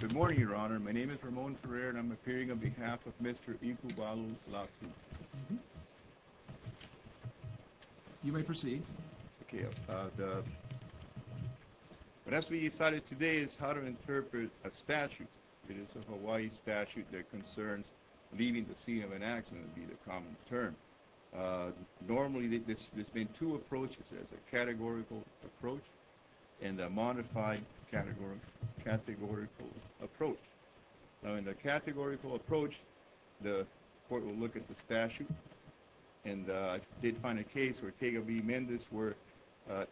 Good morning, Your Honor. My name is Ramon Ferrer, and I'm appearing on behalf of Mr. Iku Balu's law suit. You may proceed. What has to be decided today is how to interpret a statute. It is a Hawaii statute that concerns leaving the scene of an accident, would be the common term. Normally, there's been two approaches. There's a categorical approach and a modified categorical approach. Now, in the categorical approach, the court will look at the statute. And I did find a case where Tega v. Mendez where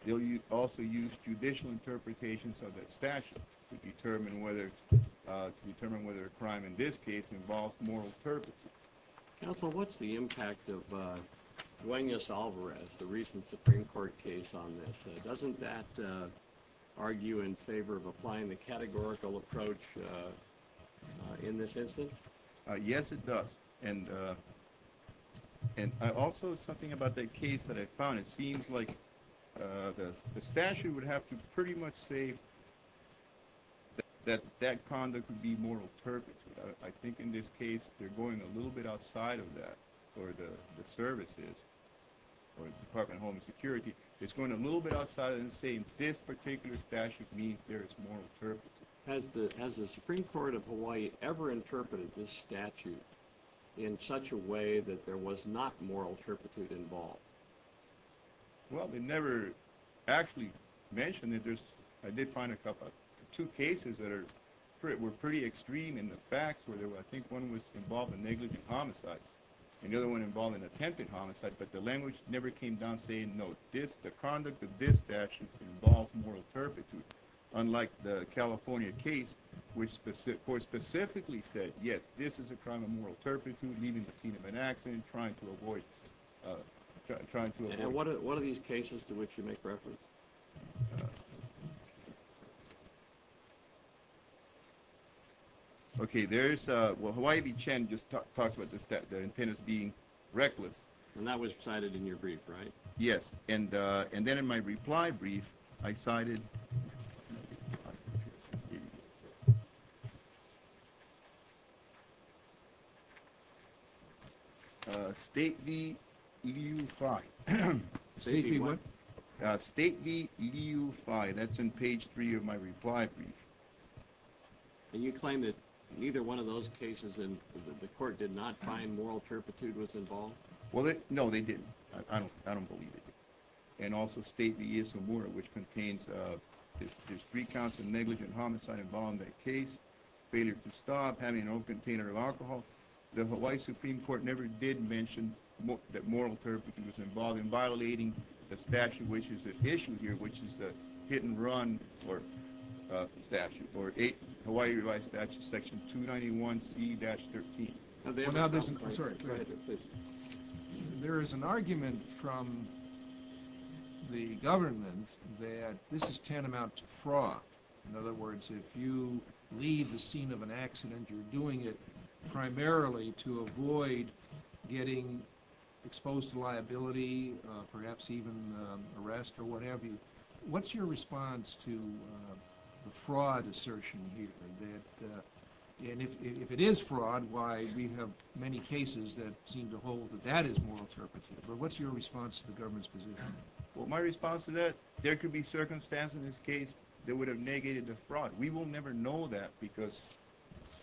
they'll also use judicial interpretations of that statute to determine whether a crime in this case involves moral turpitude. Counsel, what's the impact of Duenas-Alvarez, the recent Supreme Court case on this? Doesn't that argue in favor of applying the categorical approach in this instance? Yes, it does. And also something about that case that I found, it seems like the statute would have to pretty much say that that conduct would be moral turpitude. I think in this case, they're going a little bit outside of that for the services or the Department of Homeland Security. It's going a little bit outside and saying this particular statute means there is moral turpitude. Has the Supreme Court of Hawaii ever interpreted this statute in such a way that there was not moral turpitude involved? Well, they never actually mentioned it. I did find two cases that were pretty extreme in the facts where I think one was involved in negligent homicide and the other one involved an attempted homicide, but the language never came down saying, no, the conduct of this statute involves moral turpitude. Unlike the California case, which the court specifically said, yes, this is a crime of moral turpitude, leaving the scene of an accident, trying to avoid – And what are these cases to which you make reference? Okay, there's – well, Hawaii v. Chen just talks about the sentence being reckless. And that was cited in your brief, right? Yes. And then in my reply brief, I cited – State v. Edu Phi. State v. what? State v. Edu Phi. That's in page three of my reply brief. And you claim that neither one of those cases in the court did not find moral turpitude was involved? Well, no, they didn't. I don't believe they did. And also State v. Isamura, which contains there's three counts of negligent homicide involved in that case, failure to stop, having an own container of alcohol. The Hawaii Supreme Court never did mention that moral turpitude was involved in violating the statute, which is at issue here, which is a hit and run for the statute, for Hawaii Revised Statute Section 291C-13. There is an argument from the government that this is tantamount to fraud. In other words, if you leave the scene of an accident, you're doing it primarily to avoid getting exposed to liability, perhaps even arrest or what have you. What's your response to the fraud assertion here? And if it is fraud, why we have many cases that seem to hold that that is moral turpitude. But what's your response to the government's position? Well, my response to that, there could be circumstances in this case that would have negated the fraud. We will never know that because,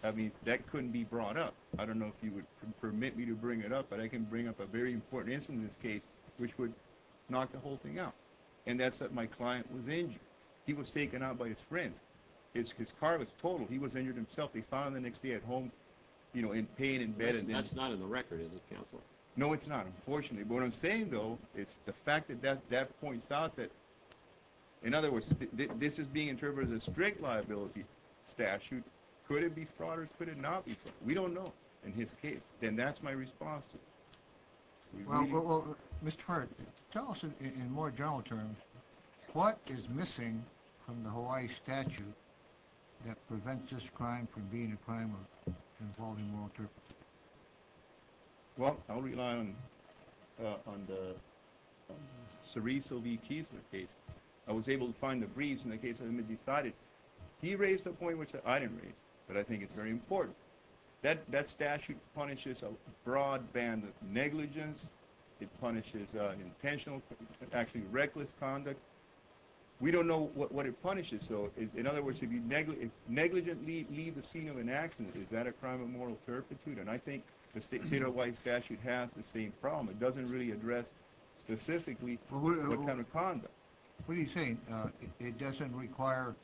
I mean, that couldn't be brought up. I don't know if you would permit me to bring it up, but I can bring up a very important instance in this case, which would knock the whole thing out. And that's that my client was injured. He was taken out by his friends. His car was totaled. He was injured himself. He found the next day at home, you know, in pain in bed. That's not in the record, is it, counsel? No, it's not, unfortunately. But what I'm saying, though, is the fact that that points out that, in other words, this is being interpreted as a strict liability statute. Could it be fraud or could it not be fraud? We don't know in his case. And that's my response to it. Well, Mr. Farrick, tell us in more general terms, what is missing from the Hawaii statute that prevents this crime from being a crime involving moral interpretation? Well, I'll rely on the Cereso v. Kiesler case. I was able to find a breeze in the case, and it was decided. He raised a point which I didn't raise, but I think it's very important. That statute punishes a broad band of negligence. It punishes intentional, actually reckless conduct. We don't know what it punishes, though. In other words, if negligent leave the scene of an accident, is that a crime of moral turpitude? And I think the state of Hawaii statute has the same problem. It doesn't really address specifically what kind of conduct. What are you saying? It doesn't require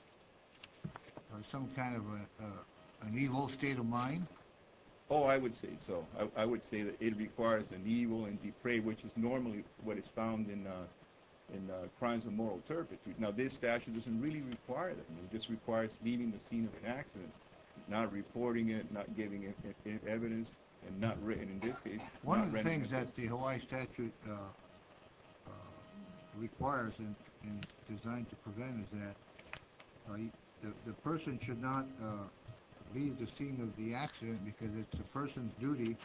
some kind of an evil state of mind? Oh, I would say so. I would say that it requires an evil and depraved, which is normally what is found in crimes of moral turpitude. Now, this statute doesn't really require that. It just requires leaving the scene of an accident, not reporting it, not giving evidence, and not written in this case. One of the things that the Hawaii statute requires and is designed to prevent is that the person should not leave the scene of the accident because it's the person's duty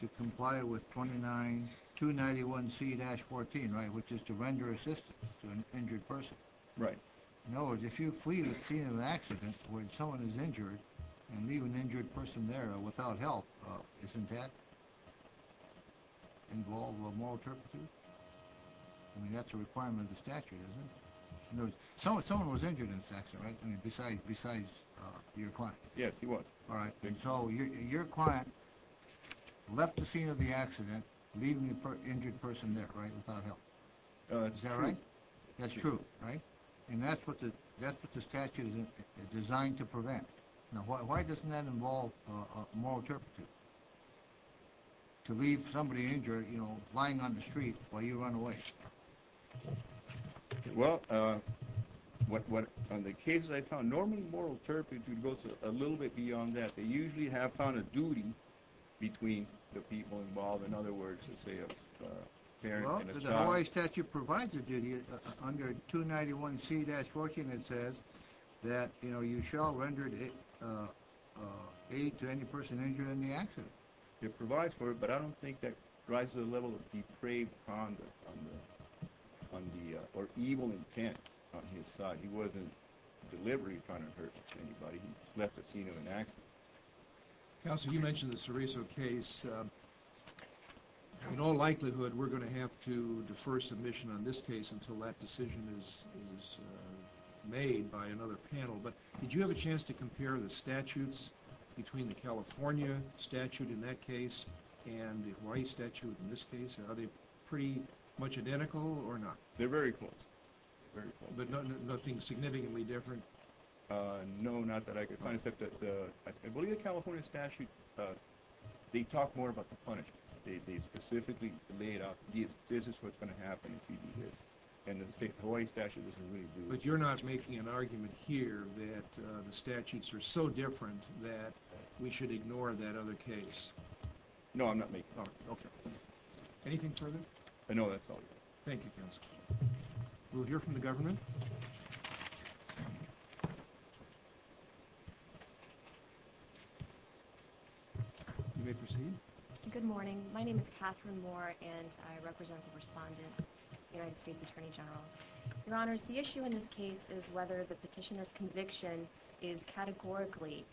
to comply with 291C-14, which is to render assistance to an injured person. Right. In other words, if you flee the scene of an accident when someone is injured and leave an injured person there without help, isn't that involved with moral turpitude? I mean, that's a requirement of the statute, isn't it? In other words, someone was injured in this accident, right? I mean, besides your client. Yes, he was. All right. And so your client left the scene of the accident, leaving the injured person there, right, without help. Is that right? That's true. Right? And that's what the statute is designed to prevent. Now, why doesn't that involve moral turpitude, to leave somebody injured, you know, lying on the street while you run away? Well, on the cases I found, normally moral turpitude goes a little bit beyond that. They usually have found a duty between the people involved. In other words, let's say a parent and a child. Well, the Hawaii statute provides a duty under 291C-14 that says that, you know, you shall render aid to any person injured in the accident. It provides for it, but I don't think that drives the level of depraved conduct or evil intent on his side. He wasn't deliberately trying to hurt anybody. He left the scene of an accident. Counsel, you mentioned the Cereso case. In all likelihood, we're going to have to defer submission on this case until that decision is made by another panel. But did you have a chance to compare the statutes between the California statute in that case and the Hawaii statute in this case? Are they pretty much identical or not? They're very close. But nothing significantly different? No, not that I could find, except that I believe the California statute, they talk more about the punishment. They specifically laid out this is what's going to happen if you do this. And the Hawaii statute doesn't really do it. But you're not making an argument here that the statutes are so different that we should ignore that other case? No, I'm not making that argument. Okay. Anything further? I know that's all you have. Thank you, Counsel. We'll hear from the government. You may proceed. Good morning. My name is Catherine Moore, and I represent the respondent, the United States Attorney General. Your Honors, the issue in this case is whether the petitioner's conviction is categorically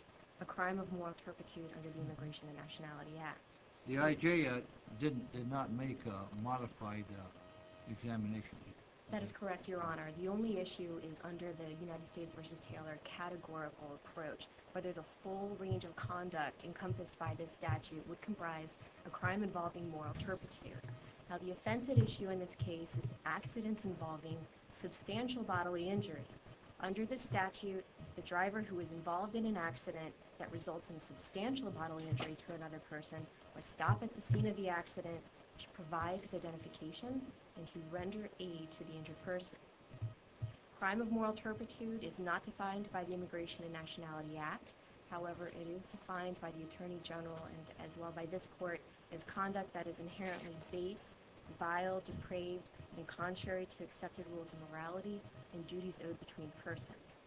a crime of moral turpitude under the Immigration and Nationality Act. The IJA did not make a modified examination. That is correct, Your Honor. The only issue is under the United States v. Taylor categorical approach, whether the full range of conduct encompassed by this statute would comprise a crime involving moral turpitude. Now, the offensive issue in this case is accidents involving substantial bodily injury. Under this statute, the driver who is involved in an accident that results in substantial bodily injury to another person must stop at the scene of the accident to provide his identification and to render aid to the injured person. Crime of moral turpitude is not defined by the Immigration and Nationality Act. However, it is defined by the Attorney General and as well by this Court as conduct that is inherently base, vile, depraved, and contrary to accepted rules of morality and duties owed between persons.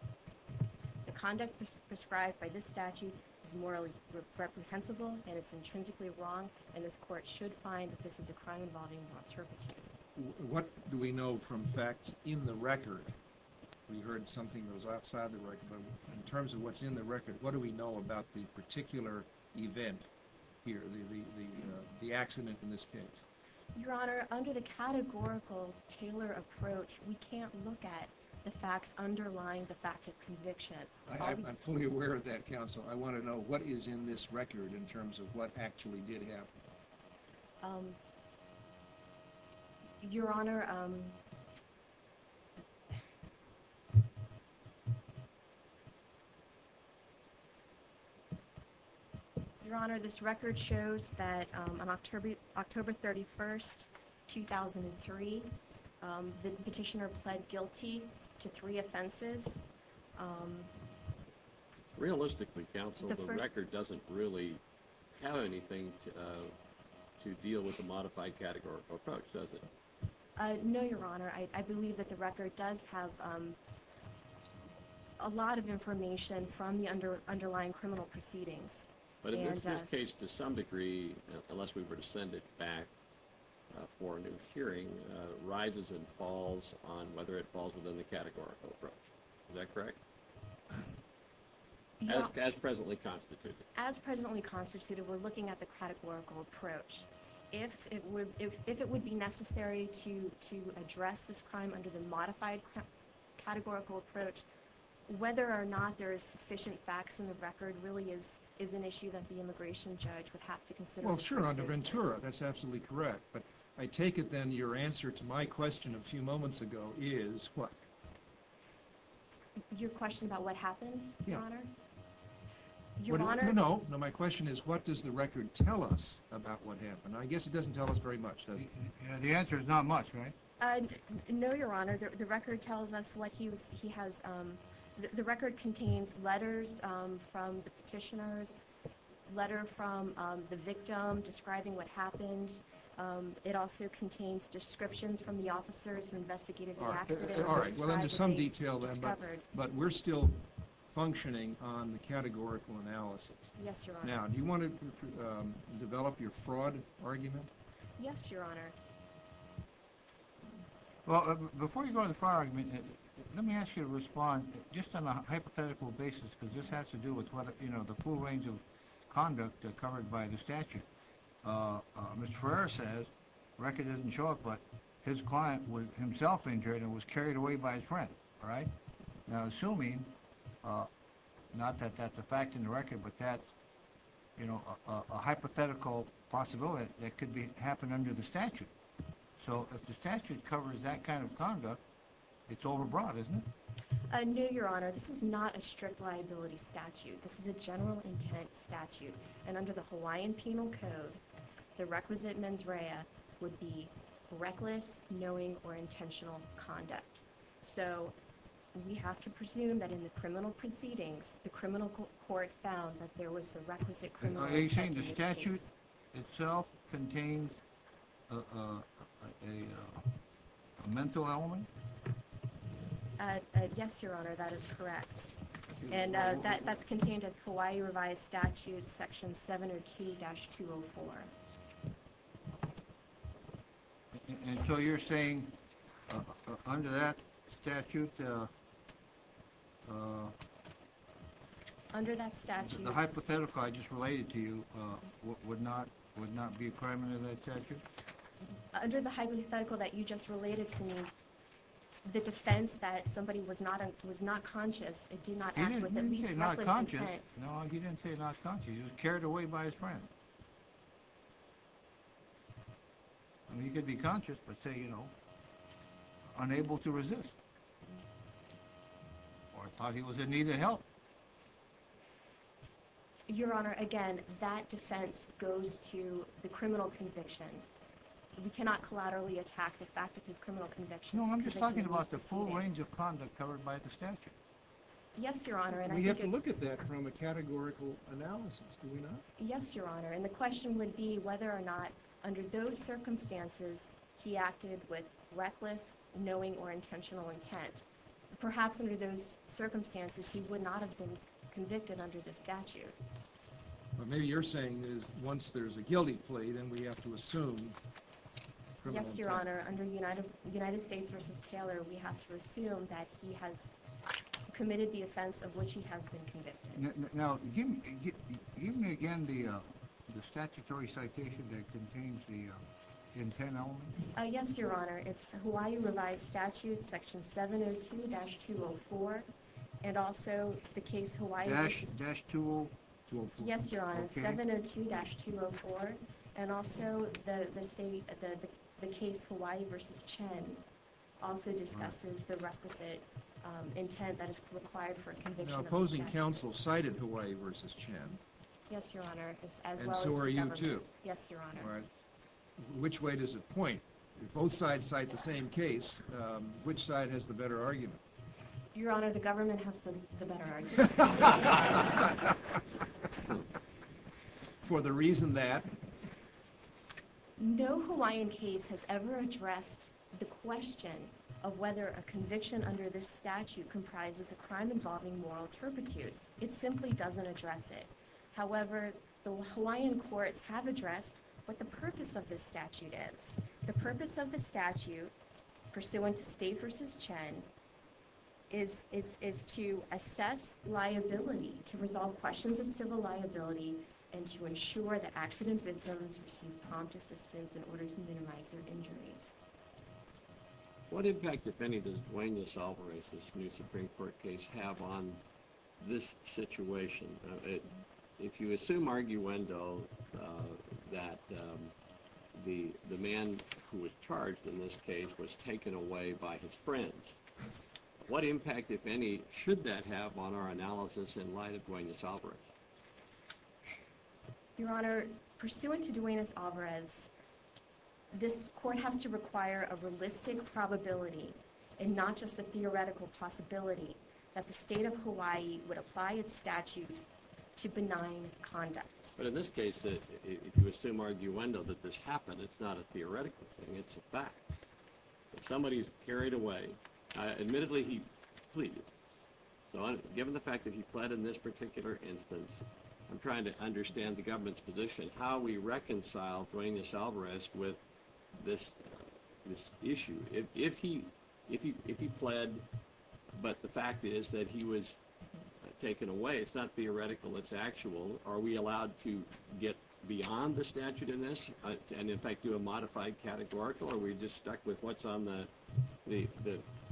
The conduct prescribed by this statute is morally reprehensible and it's intrinsically wrong, and this Court should find that this is a crime involving moral turpitude. What do we know from facts in the record? We heard something that was outside the record, but in terms of what's in the record, what do we know about the particular event here, the accident in this case? Your Honor, under the categorical Taylor approach, we can't look at the facts underlying the fact of conviction. I'm fully aware of that, Counsel. I want to know what is in this record in terms of what actually did happen. Your Honor, um... On January 1st, 2003, the petitioner pled guilty to three offenses. Realistically, Counsel, the record doesn't really have anything to deal with the modified categorical approach, does it? No, Your Honor. I believe that the record does have a lot of information from the underlying criminal proceedings. But in this case, to some degree, unless we were to send it back for a new hearing, rises and falls on whether it falls within the categorical approach. Is that correct? As presently constituted. As presently constituted, we're looking at the categorical approach. If it would be necessary to address this crime under the modified categorical approach, whether or not there is sufficient facts in the record really is an issue that the immigration judge would have to consider. Well, sure, under Ventura, that's absolutely correct. But I take it, then, your answer to my question a few moments ago is what? Your question about what happened, Your Honor? Yeah. Your Honor? No, no. My question is what does the record tell us about what happened? I guess it doesn't tell us very much, does it? The answer is not much, right? No, Your Honor. The record tells us what he has. The record contains letters from the petitioners, a letter from the victim describing what happened. It also contains descriptions from the officers who investigated the accident. All right. Well, there's some detail there, but we're still functioning on the categorical analysis. Yes, Your Honor. Now, do you want to develop your fraud argument? Yes, Your Honor. Well, before you go to the fraud argument, let me ask you to respond just on a hypothetical basis, because this has to do with the full range of conduct covered by the statute. Mr. Ferrer says, the record doesn't show it, but his client was himself injured and was carried away by his friend. All right? Now, assuming, not that that's a fact in the record, but that's a hypothetical possibility that could happen under the statute. So if the statute covers that kind of conduct, it's overbroad, isn't it? No, Your Honor. This is not a strict liability statute. This is a general intent statute, and under the Hawaiian Penal Code, the requisite mens rea would be reckless, knowing, or intentional conduct. So we have to presume that in the criminal proceedings, the criminal court found that there was a requisite criminal intent case. So are you saying the statute itself contains a mental element? Yes, Your Honor, that is correct. And that's contained in the Hawaii Revised Statute, Section 702-204. And so you're saying, under that statute, the hypothetical I just related to you would not be a crime under that statute? Under the hypothetical that you just related to me, the defense that somebody was not conscious, it did not act with at least reckless intent. He didn't say not conscious. No, he didn't say not conscious. He was carried away by his friend. I mean, he could be conscious, but say, you know, unable to resist. Or thought he was in need of help. Your Honor, again, that defense goes to the criminal conviction. We cannot collaterally attack the fact that his criminal conviction is convicted of these two things. No, I'm just talking about the full range of conduct covered by the statute. Yes, Your Honor, and I think... We have to look at that from a categorical analysis, do we not? Yes, Your Honor, and the question would be whether or not, under those circumstances, he acted with reckless, knowing, or intentional intent. Perhaps under those circumstances, he would not have been convicted under this statute. But maybe you're saying that once there's a guilty plea, then we have to assume criminal intent. Yes, Your Honor, under United States v. Taylor, we have to assume that he has committed the offense of which he has been convicted. Now, give me again the statutory citation that contains the intent element. Yes, Your Honor, it's Hawaii Revised Statute, Section 702-204, and also the case Hawaii v.— —-204. Yes, Your Honor, 702-204, and also the case Hawaii v. Chen also discusses the requisite intent Now, opposing counsel cited Hawaii v. Chen. Yes, Your Honor, as well as the government. And so are you, too. Yes, Your Honor. Which way does it point? If both sides cite the same case, which side has the better argument? Your Honor, the government has the better argument. For the reason that? No Hawaiian case has ever addressed the question of whether a conviction under this statute comprises a crime involving moral turpitude. It simply doesn't address it. However, the Hawaiian courts have addressed what the purpose of this statute is. The purpose of the statute, pursuant to State v. Chen, is to assess liability, to resolve questions of civil liability, and to ensure that accident victims receive prompt assistance in order to minimize their injuries. What impact, if any, does Duenas-Alvarez's new Supreme Court case have on this situation? If you assume arguendo that the man who was charged in this case was taken away by his friends, what impact, if any, should that have on our analysis in light of Duenas-Alvarez? Your Honor, pursuant to Duenas-Alvarez, this court has to require a realistic probability, and not just a theoretical possibility, that the State of Hawaii would apply its statute to benign conduct. But in this case, if you assume arguendo that this happened, it's not a theoretical thing, it's a fact. If somebody is carried away, admittedly he pleaded. Given the fact that he pled in this particular instance, I'm trying to understand the government's position. How do we reconcile Duenas-Alvarez with this issue? If he pled, but the fact is that he was taken away, it's not theoretical, it's actual. Are we allowed to get beyond the statute in this, and in fact do a modified categorical? Or are we just stuck with what's on the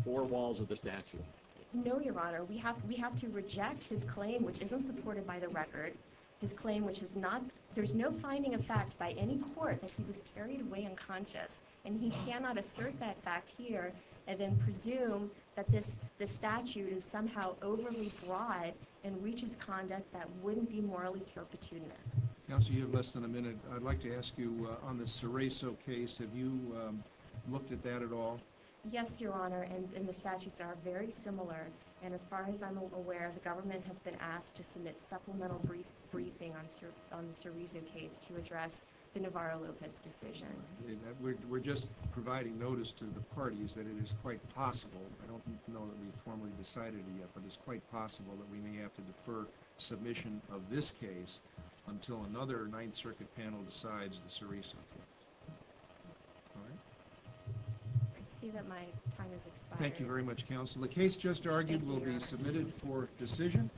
four walls of the statute? No, Your Honor. We have to reject his claim, which isn't supported by the record. His claim, which is not, there's no finding of fact by any court that he was carried away unconscious. And he cannot assert that fact here, and then presume that this statute is somehow overly broad, and reaches conduct that wouldn't be morally opportunist. Counsel, you have less than a minute. I'd like to ask you, on the Cereso case, have you looked at that at all? Yes, Your Honor, and the statutes are very similar. And as far as I'm aware, the government has been asked to submit supplemental briefing on the Cereso case to address the Navarro-Lopez decision. We're just providing notice to the parties that it is quite possible, I don't know that we've formally decided it yet, but it's quite possible that we may have to defer submission of this case until another Ninth Circuit panel decides the Cereso case. All right. I see that my time has expired. Thank you very much, Counsel. The case just argued will be submitted for decision,